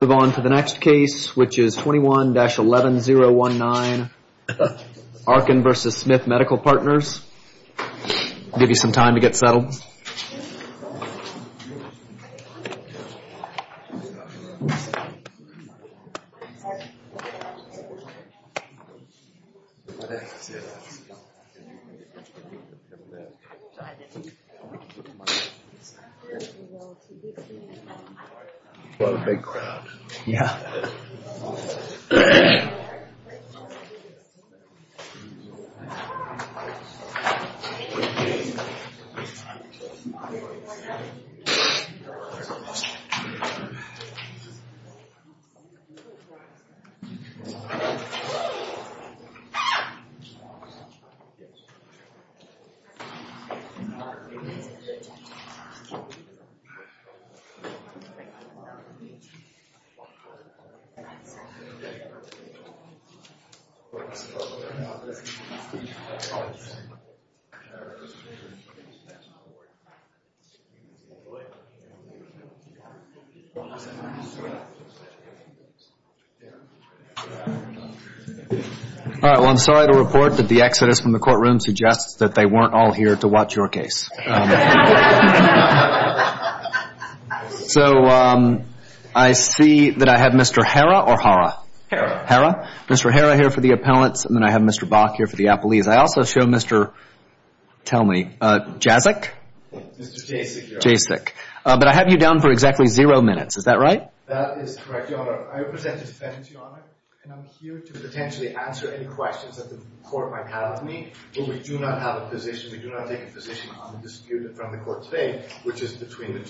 Moving on to the next case which is 21-11019 Arkin v. Smith Medical Partners. I'll give you some time to get settled. A lot of big crowd. Yeah. Yeah. Yeah. Yeah. Yeah. Yeah. Yeah. Yeah. Yeah. Yeah. Yeah. Yeah. Yeah. Yeah. Yeah. Yeah. Yeah. Yeah. Yeah.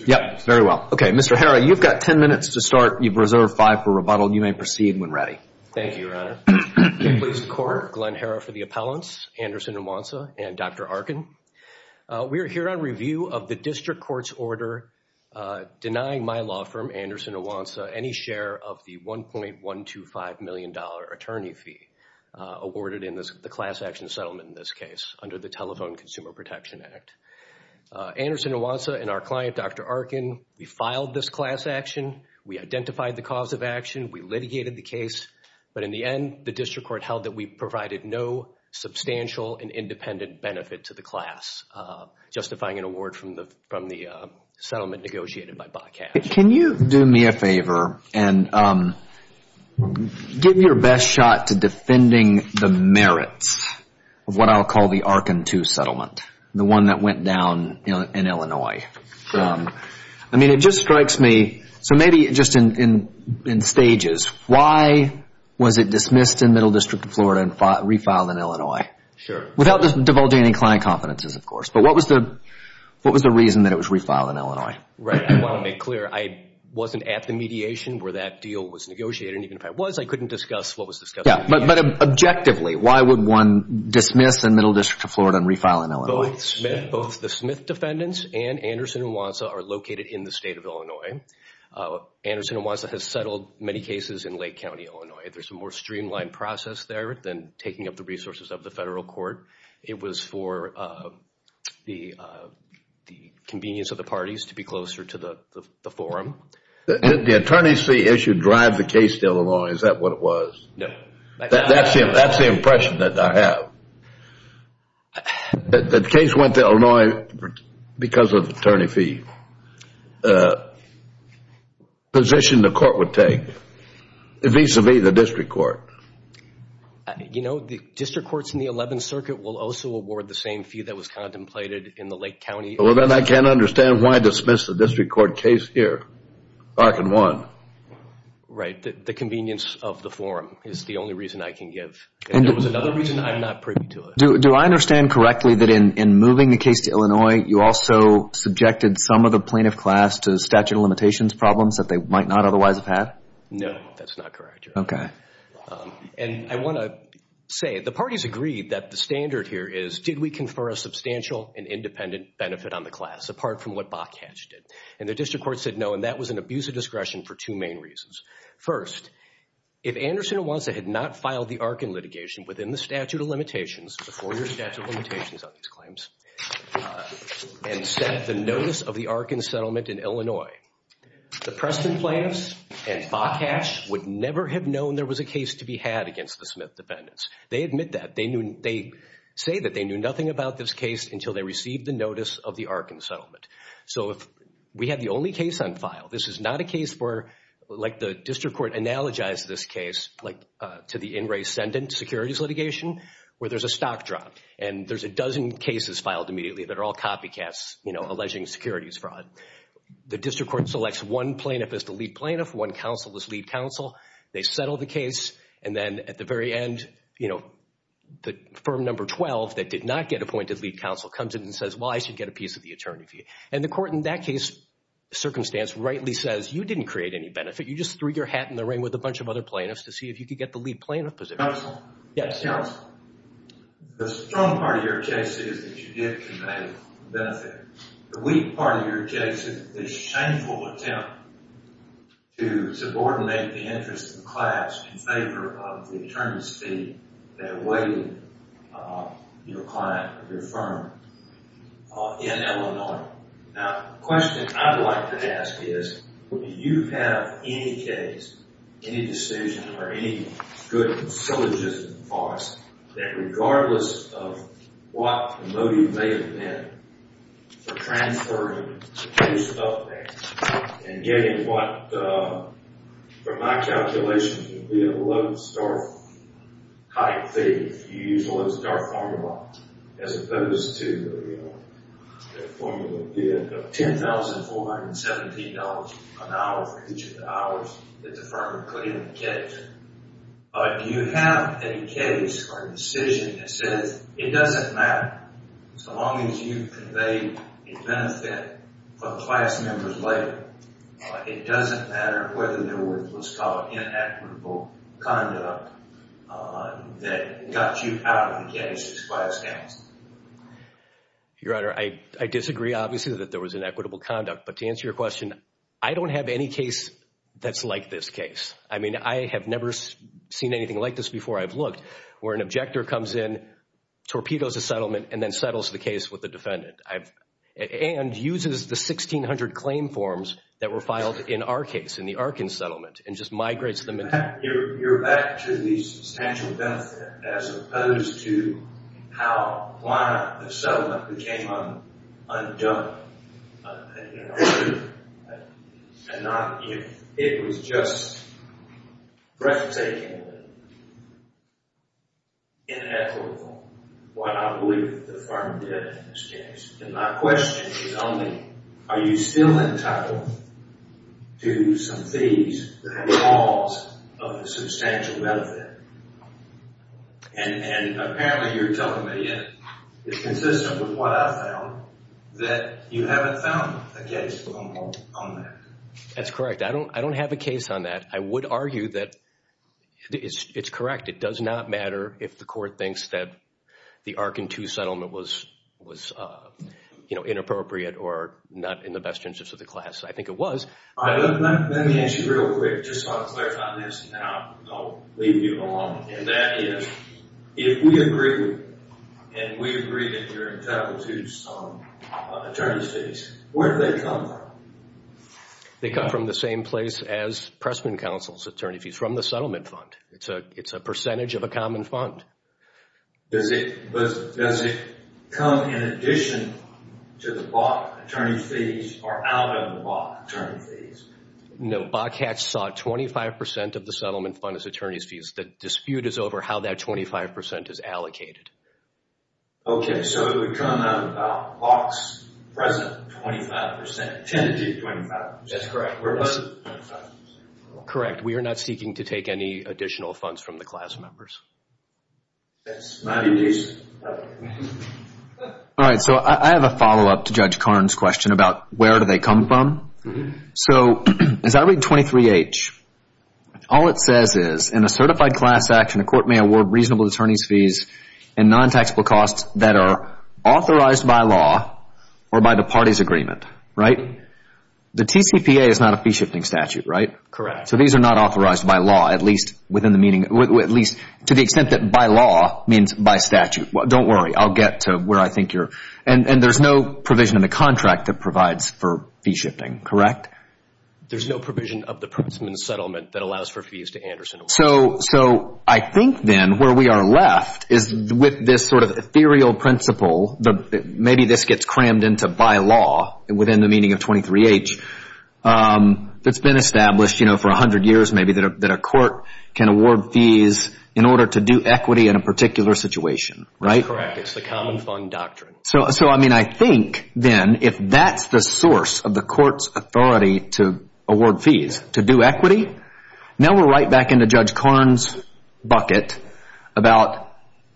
Yep, very well. Okay, Mr. Herra, you've got 10 minutes to start. You've reserved five for rebuttal. You may proceed when ready. Thank you, Your Honor. In place of court, Glenn Herra for the appellants, Anderson and Monza, and Dr. Arkin. We are here on review of the district court's order denying my law firm, Anderson and Monza, any share of the $1.125 million attorney fee awarded in the class action settlement in this case under the Telephone Consumer Protection Act. Anderson and Monza and our client, Dr. Arkin, we filed this class action. We identified the cause of action. We litigated the case. But in the end, the district court held that we provided no substantial and independent benefit to the class, justifying an award from the settlement negotiated by Bob Cash. Can you do me a favor and give your best shot to defending the merits of what I'll call the Arkin II settlement, the one that went down in Illinois? Sure. I mean, it just strikes me. So maybe just in stages, why was it dismissed in Middle District of Florida and refiled in Illinois? Sure. Without divulging any client confidences, of course. But what was the reason that it was refiled in Illinois? Right. I want to make clear. I wasn't at the mediation where that deal was negotiated. And even if I was, I couldn't discuss what was discussed. But objectively, why would one dismiss in Middle District of Florida and refile in Illinois? Both the Smith defendants and Anderson and Wanza are located in the state of Illinois. Anderson and Wanza has settled many cases in Lake County, Illinois. There's a more streamlined process there than taking up the resources of the federal court. It was for the convenience of the parties to be closer to the forum. Did the attorney's fee issue drive the case to Illinois? Is that what it was? No. That's the impression that I have. The case went to Illinois because of the attorney fee position the court would take, vis-a-vis the district court. You know, the district courts in the 11th Circuit will also award the same fee that was contemplated in the Lake County. Well, then I can't understand why dismiss the district court case here. Parkin won. Right. The convenience of the forum is the only reason I can give. And there was another reason I'm not privy to it. Do I understand correctly that in moving the case to Illinois, you also subjected some of the plaintiff class to statute of limitations problems that they might not otherwise have had? That's not correct, Your Honor. Okay. And I want to say the parties agreed that the standard here is did we confer a substantial and independent benefit on the class apart from what Bokash did? And the district court said no, and that was an abuse of discretion for two main reasons. First, if Anderson and Wonsa had not filed the Arkin litigation within the statute of limitations, before your statute of limitations on these claims, and sent the notice of the Arkin settlement in Illinois, the Preston plaintiffs and Bokash would never have known there was a case to be had against the Smith defendants. They admit that. They say that they knew nothing about this case until they received the notice of the Arkin settlement. So if we have the only case on file, this is not a case where like the district court analogized this case like to the in re ascendant securities litigation where there's a stock drop and there's a dozen cases filed immediately that are all copycats, you know, alleging securities fraud. The district court selects one plaintiff as the lead plaintiff, one counsel as lead counsel. They settle the case, and then at the very end, you know, the firm number 12 that did not get appointed lead counsel comes in and says, well, I should get a piece of the attorney for you. And the court in that case circumstance rightly says you didn't create any benefit. You just threw your hat in the ring with a bunch of other plaintiffs to see if you could get the lead plaintiff position. The strong part of your case is that you did create a benefit. The weak part of your case is the shameful attempt to subordinate the interest of the class in favor of the attorney's fee that awaited your client, your firm in Illinois. Now, the question I'd like to ask is, do you have any case, any decision, or any good syllogism for us that regardless of what the motive may have been for transferring a piece of that and getting what, from my calculations, would be a 11-star-type fee if you use a 11-star formula, as opposed to the formula of $10,417 an hour for each of the hours that the firm put in the case? Do you have any case or decision that says it doesn't matter so long as you've conveyed a benefit for the class members later, it doesn't matter whether there was what's called inequitable conduct that got you out of the case as far as counts? Your Honor, I disagree, obviously, that there was inequitable conduct. But to answer your question, I don't have any case that's like this case. I mean, I have never seen anything like this before. I've looked where an objector comes in, torpedoes a settlement, and then settles the case with the defendant. And uses the 1,600 claim forms that were filed in our case, in the Arkins settlement, and just migrates them. You're back to the substantial benefit as opposed to how the settlement became undone. I wonder if it was just breathtakingly inequitable, what I believe the firm did in this case. And my question is only, are you still entitled to some fees that have caused a substantial benefit? And apparently you're telling me it's consistent with what I found, that you haven't found a case on that. That's correct. I don't have a case on that. I would argue that it's correct. It does not matter if the court thinks that the Arkin 2 settlement was inappropriate or not in the best interest of the class. I think it was. Let me ask you real quick, just so I'm clear on this, and I'll leave you alone. And that is, if we agree, and we agree that you're entitled to some attorney fees, where do they come from? They come from the same place as Pressman Counsel's attorney fees, from the settlement fund. It's a percentage of a common fund. Does it come in addition to the Bok attorney fees or out of the Bok attorney fees? No, Bok had sought 25% of the settlement fund as attorney's fees. The dispute is over how that 25% is allocated. Okay, so it would come out about Bok's present 25%, tentative 25%. That's correct. Where was it? Correct. We are not seeking to take any additional funds from the class members. All right, so I have a follow-up to Judge Karn's question about where do they come from. So as I read 23H, all it says is, in a certified class action, a court may award reasonable attorney's fees and non-taxable costs that are authorized by law or by the party's agreement, right? The TCPA is not a fee-shifting statute, right? Correct. So these are not authorized by law, at least to the extent that by law means by statute. Don't worry. I'll get to where I think you're – and there's no provision in the contract that provides for fee-shifting, correct? There's no provision of the Pressman settlement that allows for fees to Anderson. So I think then where we are left is with this sort of ethereal principle, maybe this gets crammed into by law within the meaning of 23H, that's been established for 100 years maybe that a court can award fees in order to do equity in a particular situation, right? Correct. It's the common fund doctrine. So, I mean, I think then if that's the source of the court's authority to award fees, to do equity, now we're right back into Judge Korn's bucket about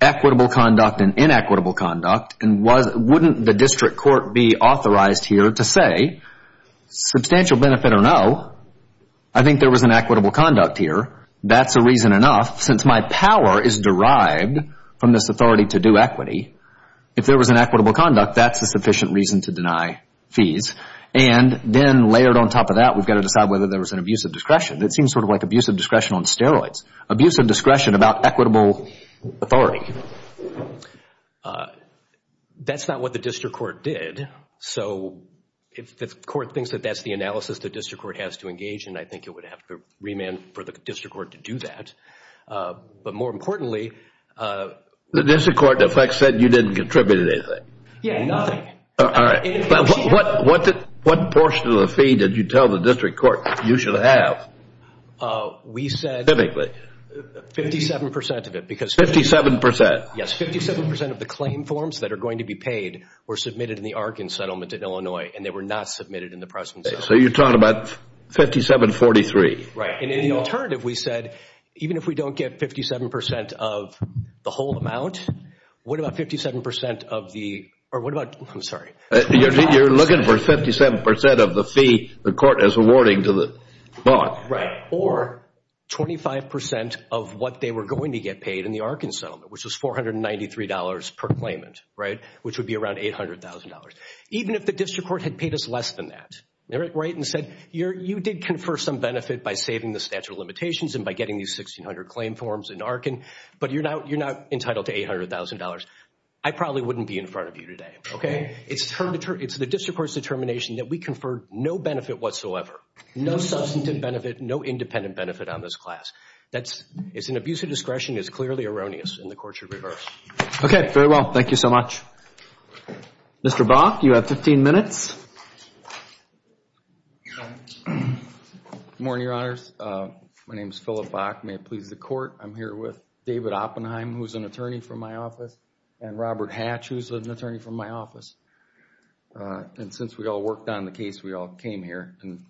equitable conduct and inequitable conduct, and wouldn't the district court be authorized here to say, substantial benefit or no, I think there was an equitable conduct here, that's a reason enough. Since my power is derived from this authority to do equity, if there was an equitable conduct, that's a sufficient reason to deny fees. And then layered on top of that, we've got to decide whether there was an abuse of discretion. It seems sort of like abuse of discretion on steroids. Abuse of discretion about equitable authority. That's not what the district court did. So if the court thinks that that's the analysis the district court has to engage in, I think it would have to remand for the district court to do that. But more importantly... The district court, in effect, said you didn't contribute anything. Yeah, nothing. All right. What portion of the fee did you tell the district court you should have? We said... Specifically? 57% of it, because... 57%? Yes, 57% of the claim forms that are going to be paid were submitted in the Arkin settlement in Illinois, and they were not submitted in the Preston settlement. So you're talking about 5743? Right, and in the alternative, we said, even if we don't get 57% of the whole amount, what about 57% of the... Or what about... I'm sorry. You're looking for 57% of the fee the court is awarding to the bond. Right. Or 25% of what they were going to get paid in the Arkin settlement, which was $493 per claimant, right, which would be around $800,000. Even if the district court had paid us less than that. Right? And said, you did confer some benefit by saving the statute of limitations and by getting these 1600 claim forms in Arkin, but you're now entitled to $800,000. I probably wouldn't be in front of you today. Okay? It's the district court's determination that we conferred no benefit whatsoever, no substantive benefit, no independent benefit on this class. It's an abuse of discretion. It's clearly erroneous, and the court should reverse. Okay, very well. Thank you so much. Mr. Bach, you have 15 minutes. Good morning, Your Honors. My name is Philip Bach. May it please the court. I'm here with David Oppenheim, who's an attorney from my office, and Robert Hatch, who's an attorney from my office. And since we all worked on the case, we all came here. And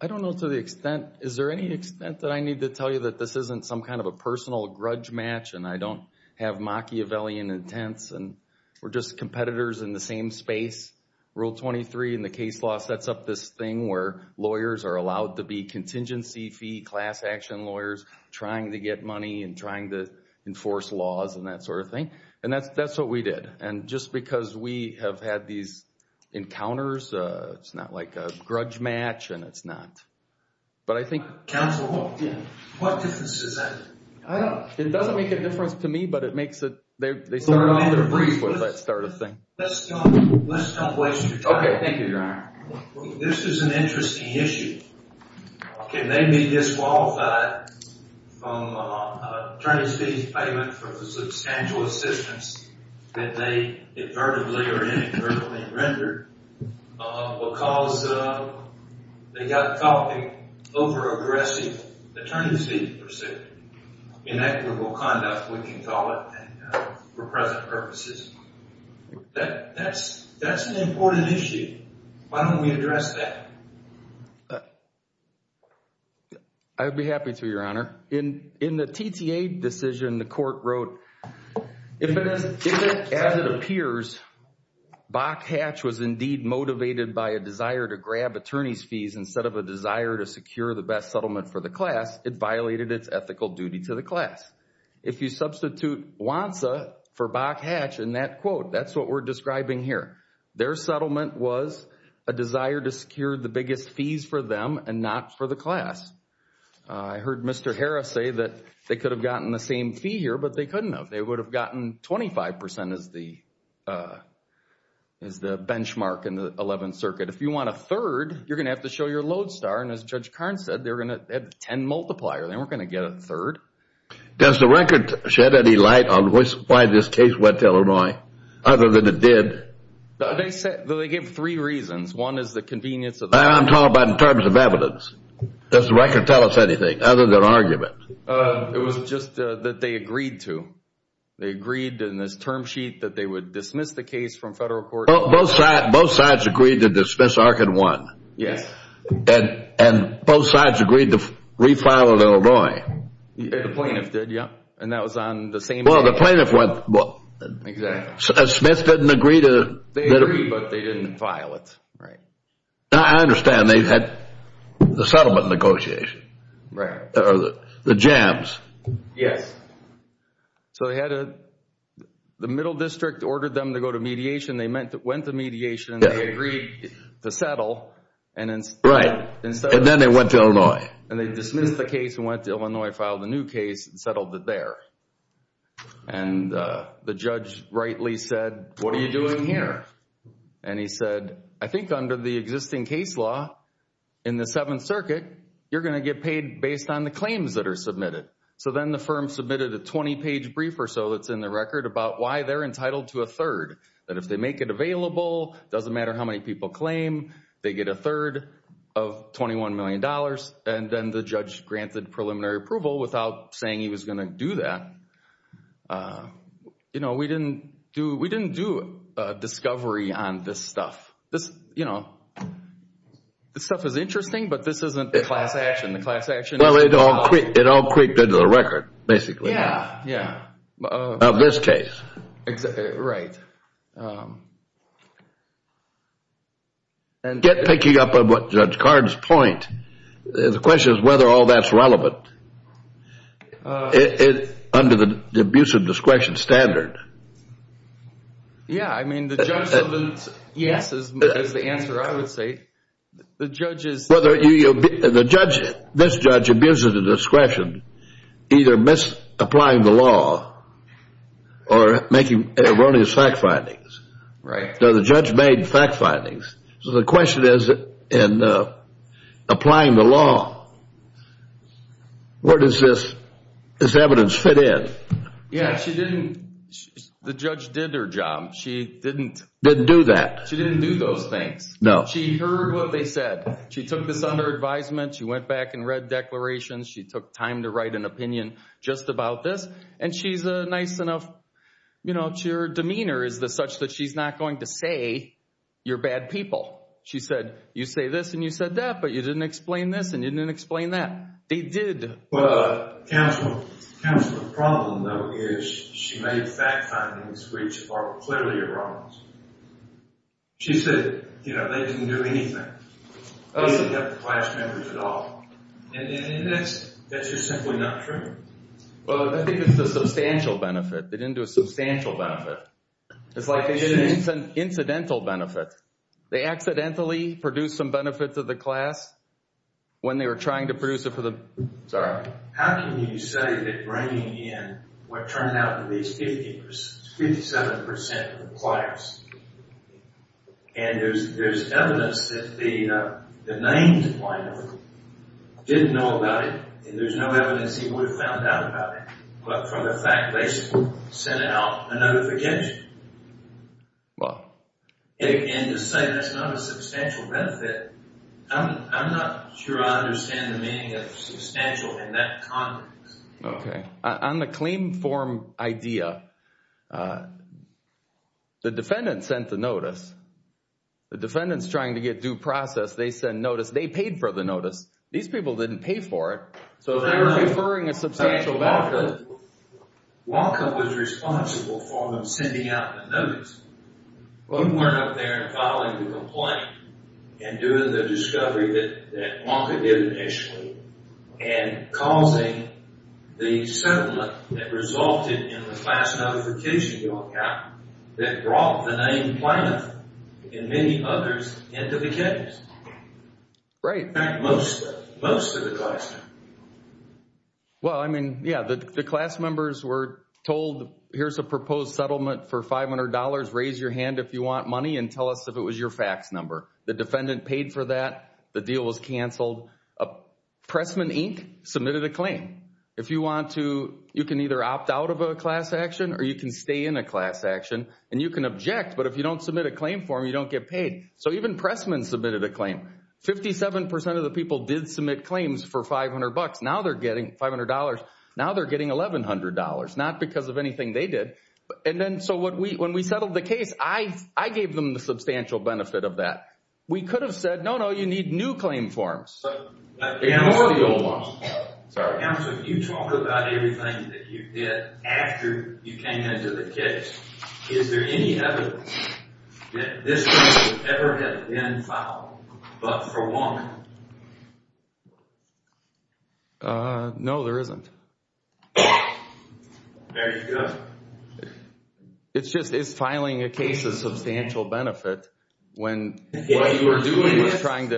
I don't know to the extent, is there any extent that I need to tell you that this isn't some kind of a personal grudge match and I don't have Machiavellian intents and we're just competitors in the same space? Rule 23 in the case law sets up this thing where lawyers are allowed to be competitors, trying to get money and trying to enforce laws and that sort of thing. And that's what we did. And just because we have had these encounters, it's not like a grudge match and it's not. But I think. Counsel, what difference does that make? It doesn't make a difference to me, but it makes it. They started off with that sort of thing. Let's come closer. Okay. Thank you, Your Honor. This is an interesting issue. Can they be disqualified from attorney's fees payment for the substantial assistance that they inadvertently or inadvertently rendered because they got caught in over-aggressive attorney's fees pursuit. Inequitable conduct, we can call it, for present purposes. That's an important issue. Why don't we address that? I would be happy to, Your Honor. In the TTA decision, the court wrote, as it appears, Bok-Hatch was indeed motivated by a desire to grab attorney's fees instead of a desire to secure the best settlement for the class, it violated its ethical duty to the class. If you substitute WANSA for Bok-Hatch in that quote, that's what we're describing here. Their settlement was a desire to secure the biggest fees for them and not for the class. I heard Mr. Harris say that they could have gotten the same fee here, but they couldn't have. They would have gotten 25% as the benchmark in the Eleventh Circuit. If you want a third, you're going to have to show your Lodestar, and as Judge Carnes said, they're going to add 10 multiplier. They weren't going to get a third. Does the record shed any light on why this case went to Illinois other than because it did? They gave three reasons. One is the convenience of the record. I'm talking about in terms of evidence. Does the record tell us anything other than argument? It was just that they agreed to. They agreed in this term sheet that they would dismiss the case from federal court. Both sides agreed to dismiss Arkin 1. Yes. And both sides agreed to refile at Illinois. The plaintiff did, yes, and that was on the same day. Well, the plaintiff went. Exactly. Smith didn't agree to. They agreed, but they didn't file it. Right. I understand. They had the settlement negotiation. Right. The jams. Yes. The Middle District ordered them to go to mediation. They went to mediation. They agreed to settle. Right. And then they went to Illinois. And they dismissed the case and went to Illinois, filed a new case and settled it there. And the judge rightly said, what are you doing here? And he said, I think under the existing case law in the Seventh Circuit, you're going to get paid based on the claims that are submitted. So then the firm submitted a 20-page brief or so that's in the record about why they're entitled to a third, that if they make it available, it doesn't matter how many people claim, they get a third of $21 million. And then the judge granted preliminary approval without saying he was going to do that. We didn't do a discovery on this stuff. This stuff is interesting, but this isn't the class action. Well, it all creeped into the record, basically. Yeah. Yeah. Of this case. Right. And picking up on what Judge Card's point, the question is whether all that's relevant under the abuse of discretion standard. Yeah. I mean, the judge said yes is the answer, I would say. The judge is. This judge abuses the discretion either misapplying the law or making erroneous fact findings. Right. The judge made fact findings. So the question is, in applying the law, where does this evidence fit in? Yeah, she didn't. The judge did her job. She didn't. Didn't do that. She didn't do those things. No. She heard what they said. She took this under advisement. She went back and read declarations. She took time to write an opinion just about this. And she's a nice enough, you know, so much that she's not going to say you're bad people. She said, you say this and you said that, but you didn't explain this and you didn't explain that. They did. But counsel, the problem, though, is she made fact findings which are clearly erroneous. She said, you know, they didn't do anything. They didn't have the class members at all. And that's just simply not true. Well, I think it's a substantial benefit. They didn't do a substantial benefit. It's like they did an incidental benefit. They accidentally produced some benefits of the class when they were trying to produce it for the. Sorry. How can you say that bringing in what turned out to be 57% of the class, and there's evidence that the named plaintiff didn't know about it, and there's no evidence he would have found out about it, but from the fact they sent out a notification. Well. And to say that's not a substantial benefit, I'm not sure I understand the meaning of substantial in that context. Okay. On the claim form idea, the defendant sent the notice. The defendant's trying to get due process. They sent notice. They paid for the notice. These people didn't pay for it. So they were deferring a substantial benefit. WANCA was responsible for them sending out the notice. But we weren't up there and filing the complaint and doing the discovery that WANCA did initially and causing the settlement that resulted in the class notification that brought the named plaintiff and many others into the case. Right. In fact, most of the class. Well, I mean, yeah, the class members were told, here's a proposed settlement for $500, raise your hand if you want money, and tell us if it was your fax number. The defendant paid for that. The deal was canceled. Pressman, Inc. submitted a claim. If you want to, you can either opt out of a class action or you can stay in a class action, and you can object, but if you don't submit a claim form, you don't get paid. So even Pressman submitted a claim. Fifty-seven percent of the people did submit claims for $500. Now they're getting $500. Now they're getting $1,100, not because of anything they did. And then so when we settled the case, I gave them the substantial benefit of that. We could have said, no, no, you need new claim forms or the old ones. Counsel, you talk about everything that you did after you came into the case. Is there any evidence that this case would ever have been filed but for one? No, there isn't. There you go. It's just, is filing a case a substantial benefit when what you were doing was trying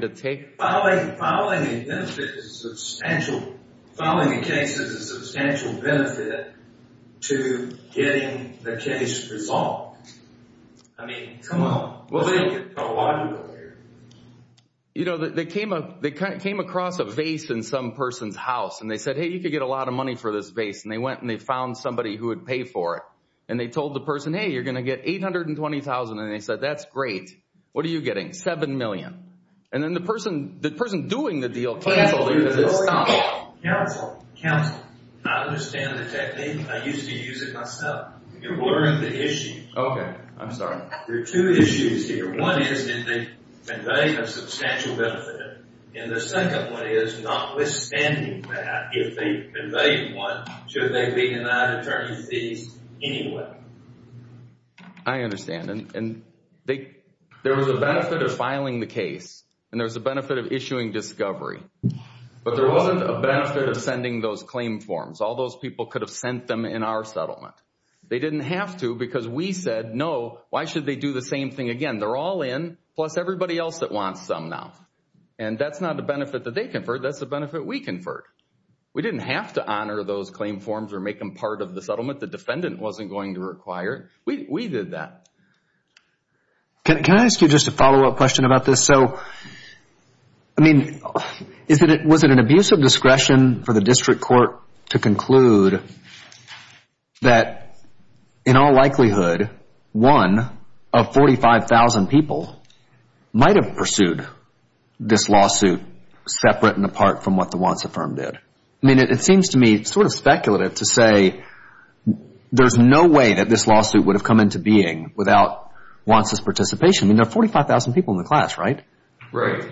to take? Filing a case is a substantial benefit to getting the case resolved. I mean, come on. We'll take it. You know, they came across a vase in some person's house, and they said, hey, you could get a lot of money for this vase, and they went and they found somebody who would pay for it. And they told the person, hey, you're going to get $820,000, and they said, that's great. What are you getting? $7 million. And then the person doing the deal canceled it because it stopped. Counsel, counsel, I understand the technique. I used to use it myself. You're blurring the issue. Okay. I'm sorry. There are two issues here. One is, did they convey a substantial benefit? And the second one is, notwithstanding that, if they conveyed one, should they be denied attorney fees anyway? I understand. There was a benefit of filing the case, and there was a benefit of issuing discovery. But there wasn't a benefit of sending those claim forms. All those people could have sent them in our settlement. They didn't have to because we said, no, why should they do the same thing again? They're all in, plus everybody else that wants them now. And that's not a benefit that they conferred. That's a benefit we conferred. We didn't have to honor those claim forms or make them part of the settlement. The defendant wasn't going to require it. We did that. Can I ask you just a follow-up question about this? So, I mean, was it an abuse of discretion for the district court to conclude that, in all likelihood, one of 45,000 people might have pursued this lawsuit separate and apart from what the Wants Affirmed did? I mean, it seems to me sort of speculative to say there's no way that this lawsuit would have come into being without Wants' participation. I mean, there are 45,000 people in the class, right? Right.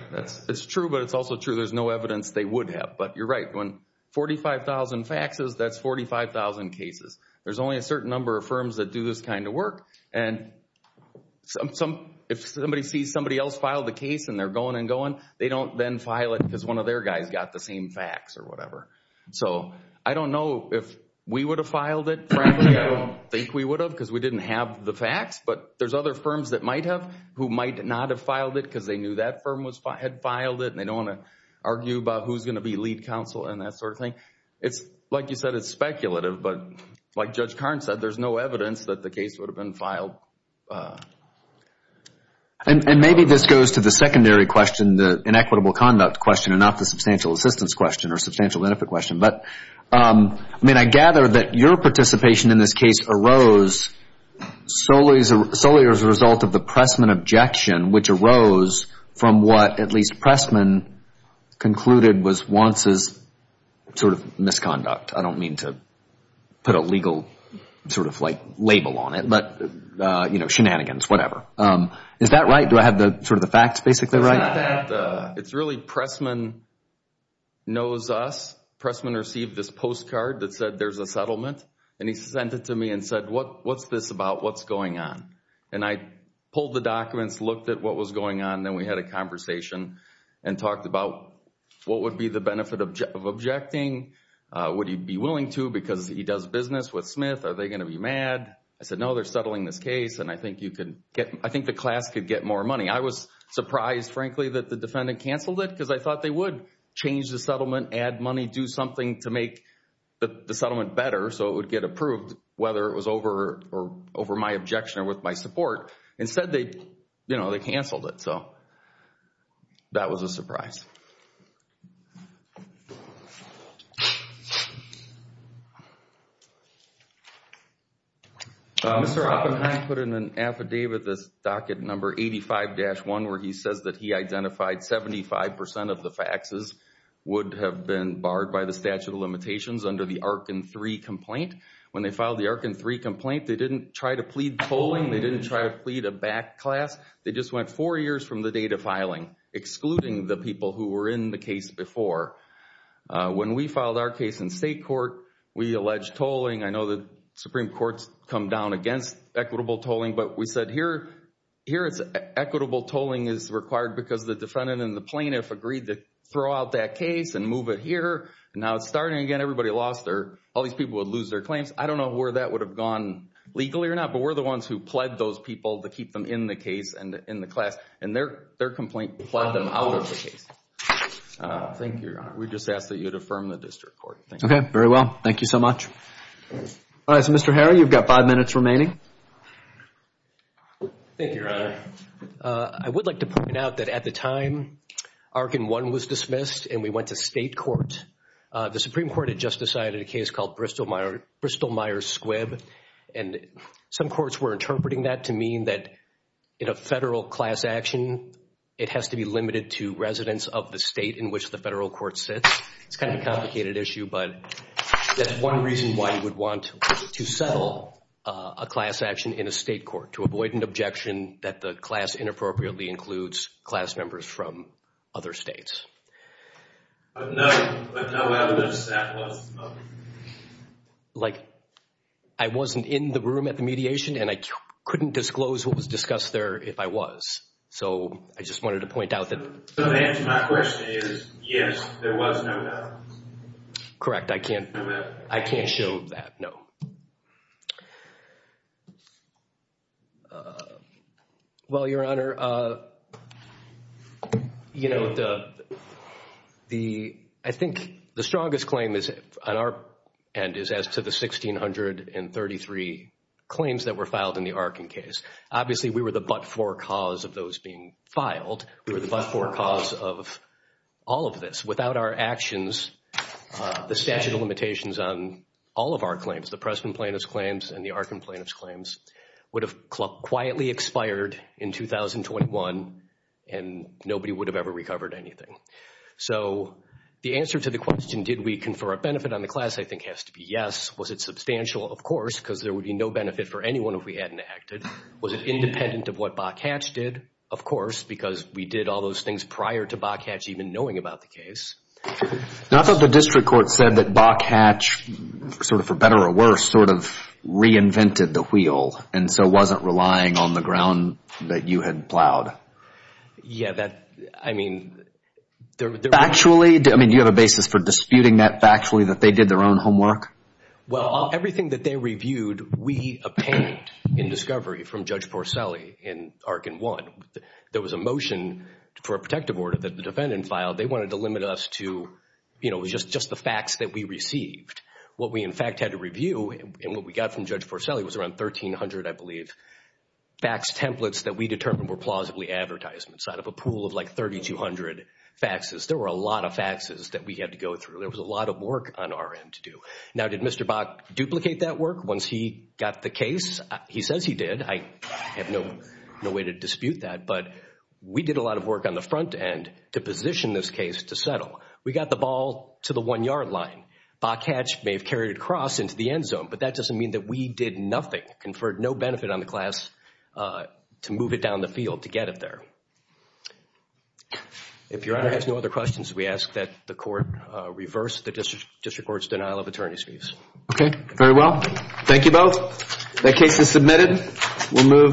It's true, but it's also true there's no evidence they would have. But you're right. When 45,000 faxes, that's 45,000 cases. There's only a certain number of firms that do this kind of work. And if somebody sees somebody else file the case and they're going and going, they don't then file it because one of their guys got the same fax or whatever. So I don't know if we would have filed it. Frankly, I don't think we would have because we didn't have the fax. But there's other firms that might have who might not have filed it because they knew that firm had filed it, and they don't want to argue about who's going to be lead counsel and that sort of thing. Like you said, it's speculative. But like Judge Karn said, there's no evidence that the case would have been filed. And maybe this goes to the secondary question, the inequitable conduct question, and not the substantial assistance question or substantial benefit question. But, I mean, I gather that your participation in this case arose solely as a result of the Pressman objection, which arose from what at least Pressman concluded was Wants' sort of misconduct. I don't mean to put a legal sort of like label on it. But, you know, shenanigans, whatever. Is that right? Do I have sort of the facts basically right? It's really Pressman knows us. Pressman received this postcard that said there's a settlement. And he sent it to me and said, what's this about? What's going on? And I pulled the documents, looked at what was going on, and then we had a conversation and talked about what would be the benefit of objecting. Would he be willing to because he does business with Smith? Are they going to be mad? I said, no, they're settling this case, and I think the class could get more money. I was surprised, frankly, that the defendant canceled it because I thought they would change the settlement, add money, do something to make the settlement better so it would get approved, whether it was over my objection or with my support. Instead, they canceled it. So that was a surprise. Mr. Oppenheim put in an affidavit, this docket number 85-1, where he says that he identified 75% of the faxes would have been barred by the statute of limitations under the ARCIN 3 complaint. When they filed the ARCIN 3 complaint, they didn't try to plead polling. They didn't try to plead a back class. They just went four years from the date of filing, excluding the people who had filed the ARCIN 3 complaint. When we filed our case in state court, we alleged tolling. I know the Supreme Court's come down against equitable tolling, but we said here it's equitable tolling is required because the defendant and the plaintiff agreed to throw out that case and move it here. Now it's starting again. Everybody lost their – all these people would lose their claims. I don't know where that would have gone legally or not, but we're the ones who pled those people to keep them in the case and in the class, and their complaint pled them out of the case. Thank you, Your Honor. We just ask that you'd affirm the district court. Okay, very well. Thank you so much. All right, so Mr. Harry, you've got five minutes remaining. Thank you, Your Honor. I would like to point out that at the time ARCIN 1 was dismissed and we went to state court, the Supreme Court had just decided a case called Bristol-Myers Squibb, and some courts were interpreting that to mean that in a federal class action, it has to be limited to residents of the state in which the federal court sits. It's kind of a complicated issue, but that's one reason why you would want to settle a class action in a state court, to avoid an objection that the class inappropriately includes class members from other states. No evidence that was. Like, I wasn't in the room at the mediation, and I couldn't disclose what was discussed there if I was. So I just wanted to point out that. So the answer to my question is yes, there was no doubt. Correct. I can't show that, no. Well, Your Honor, I think the strongest claim on our end is as to the 1,633 claims that were filed in the ARCIN case. Obviously, we were the but-for cause of those being filed. We were the but-for cause of all of this. Without our actions, the statute of limitations on all of our claims, the Pressman plaintiff's claims and the ARCIN plaintiff's claims, would have quietly expired in 2021, and nobody would have ever recovered anything. So the answer to the question, did we confer a benefit on the class, I think has to be yes. Was it substantial? Of course, because there would be no benefit for anyone if we hadn't acted. Was it independent of what Bokach did? Of course, because we did all those things prior to Bokach even knowing about the case. Now, I thought the district court said that Bokach, sort of for better or worse, sort of reinvented the wheel and so wasn't relying on the ground that you had plowed. Yeah, that, I mean. Factually? I mean, do you have a basis for disputing that factually, that they did their own homework? Well, everything that they reviewed, we obtained in discovery from Judge Porcelli in ARCIN 1. There was a motion for a protective order that the defendant filed. They wanted to limit us to, you know, just the facts that we received. What we, in fact, had to review and what we got from Judge Porcelli was around 1,300, I believe, fax templates that we determined were plausibly advertisements out of a pool of like 3,200 faxes. There were a lot of faxes that we had to go through. There was a lot of work on our end to do. Now, did Mr. Bok duplicate that work once he got the case? He says he did. I have no way to dispute that, but we did a lot of work on the front end to position this case to settle. We got the ball to the one-yard line. Bokach may have carried it across into the end zone, but that doesn't mean that we did nothing, conferred no benefit on the class to move it down the field to get it there. If Your Honor has no other questions, we ask that the court reverse the district court's denial of attorney's fees. Okay, very well. Thank you both. That case is submitted. We'll move to the hearing.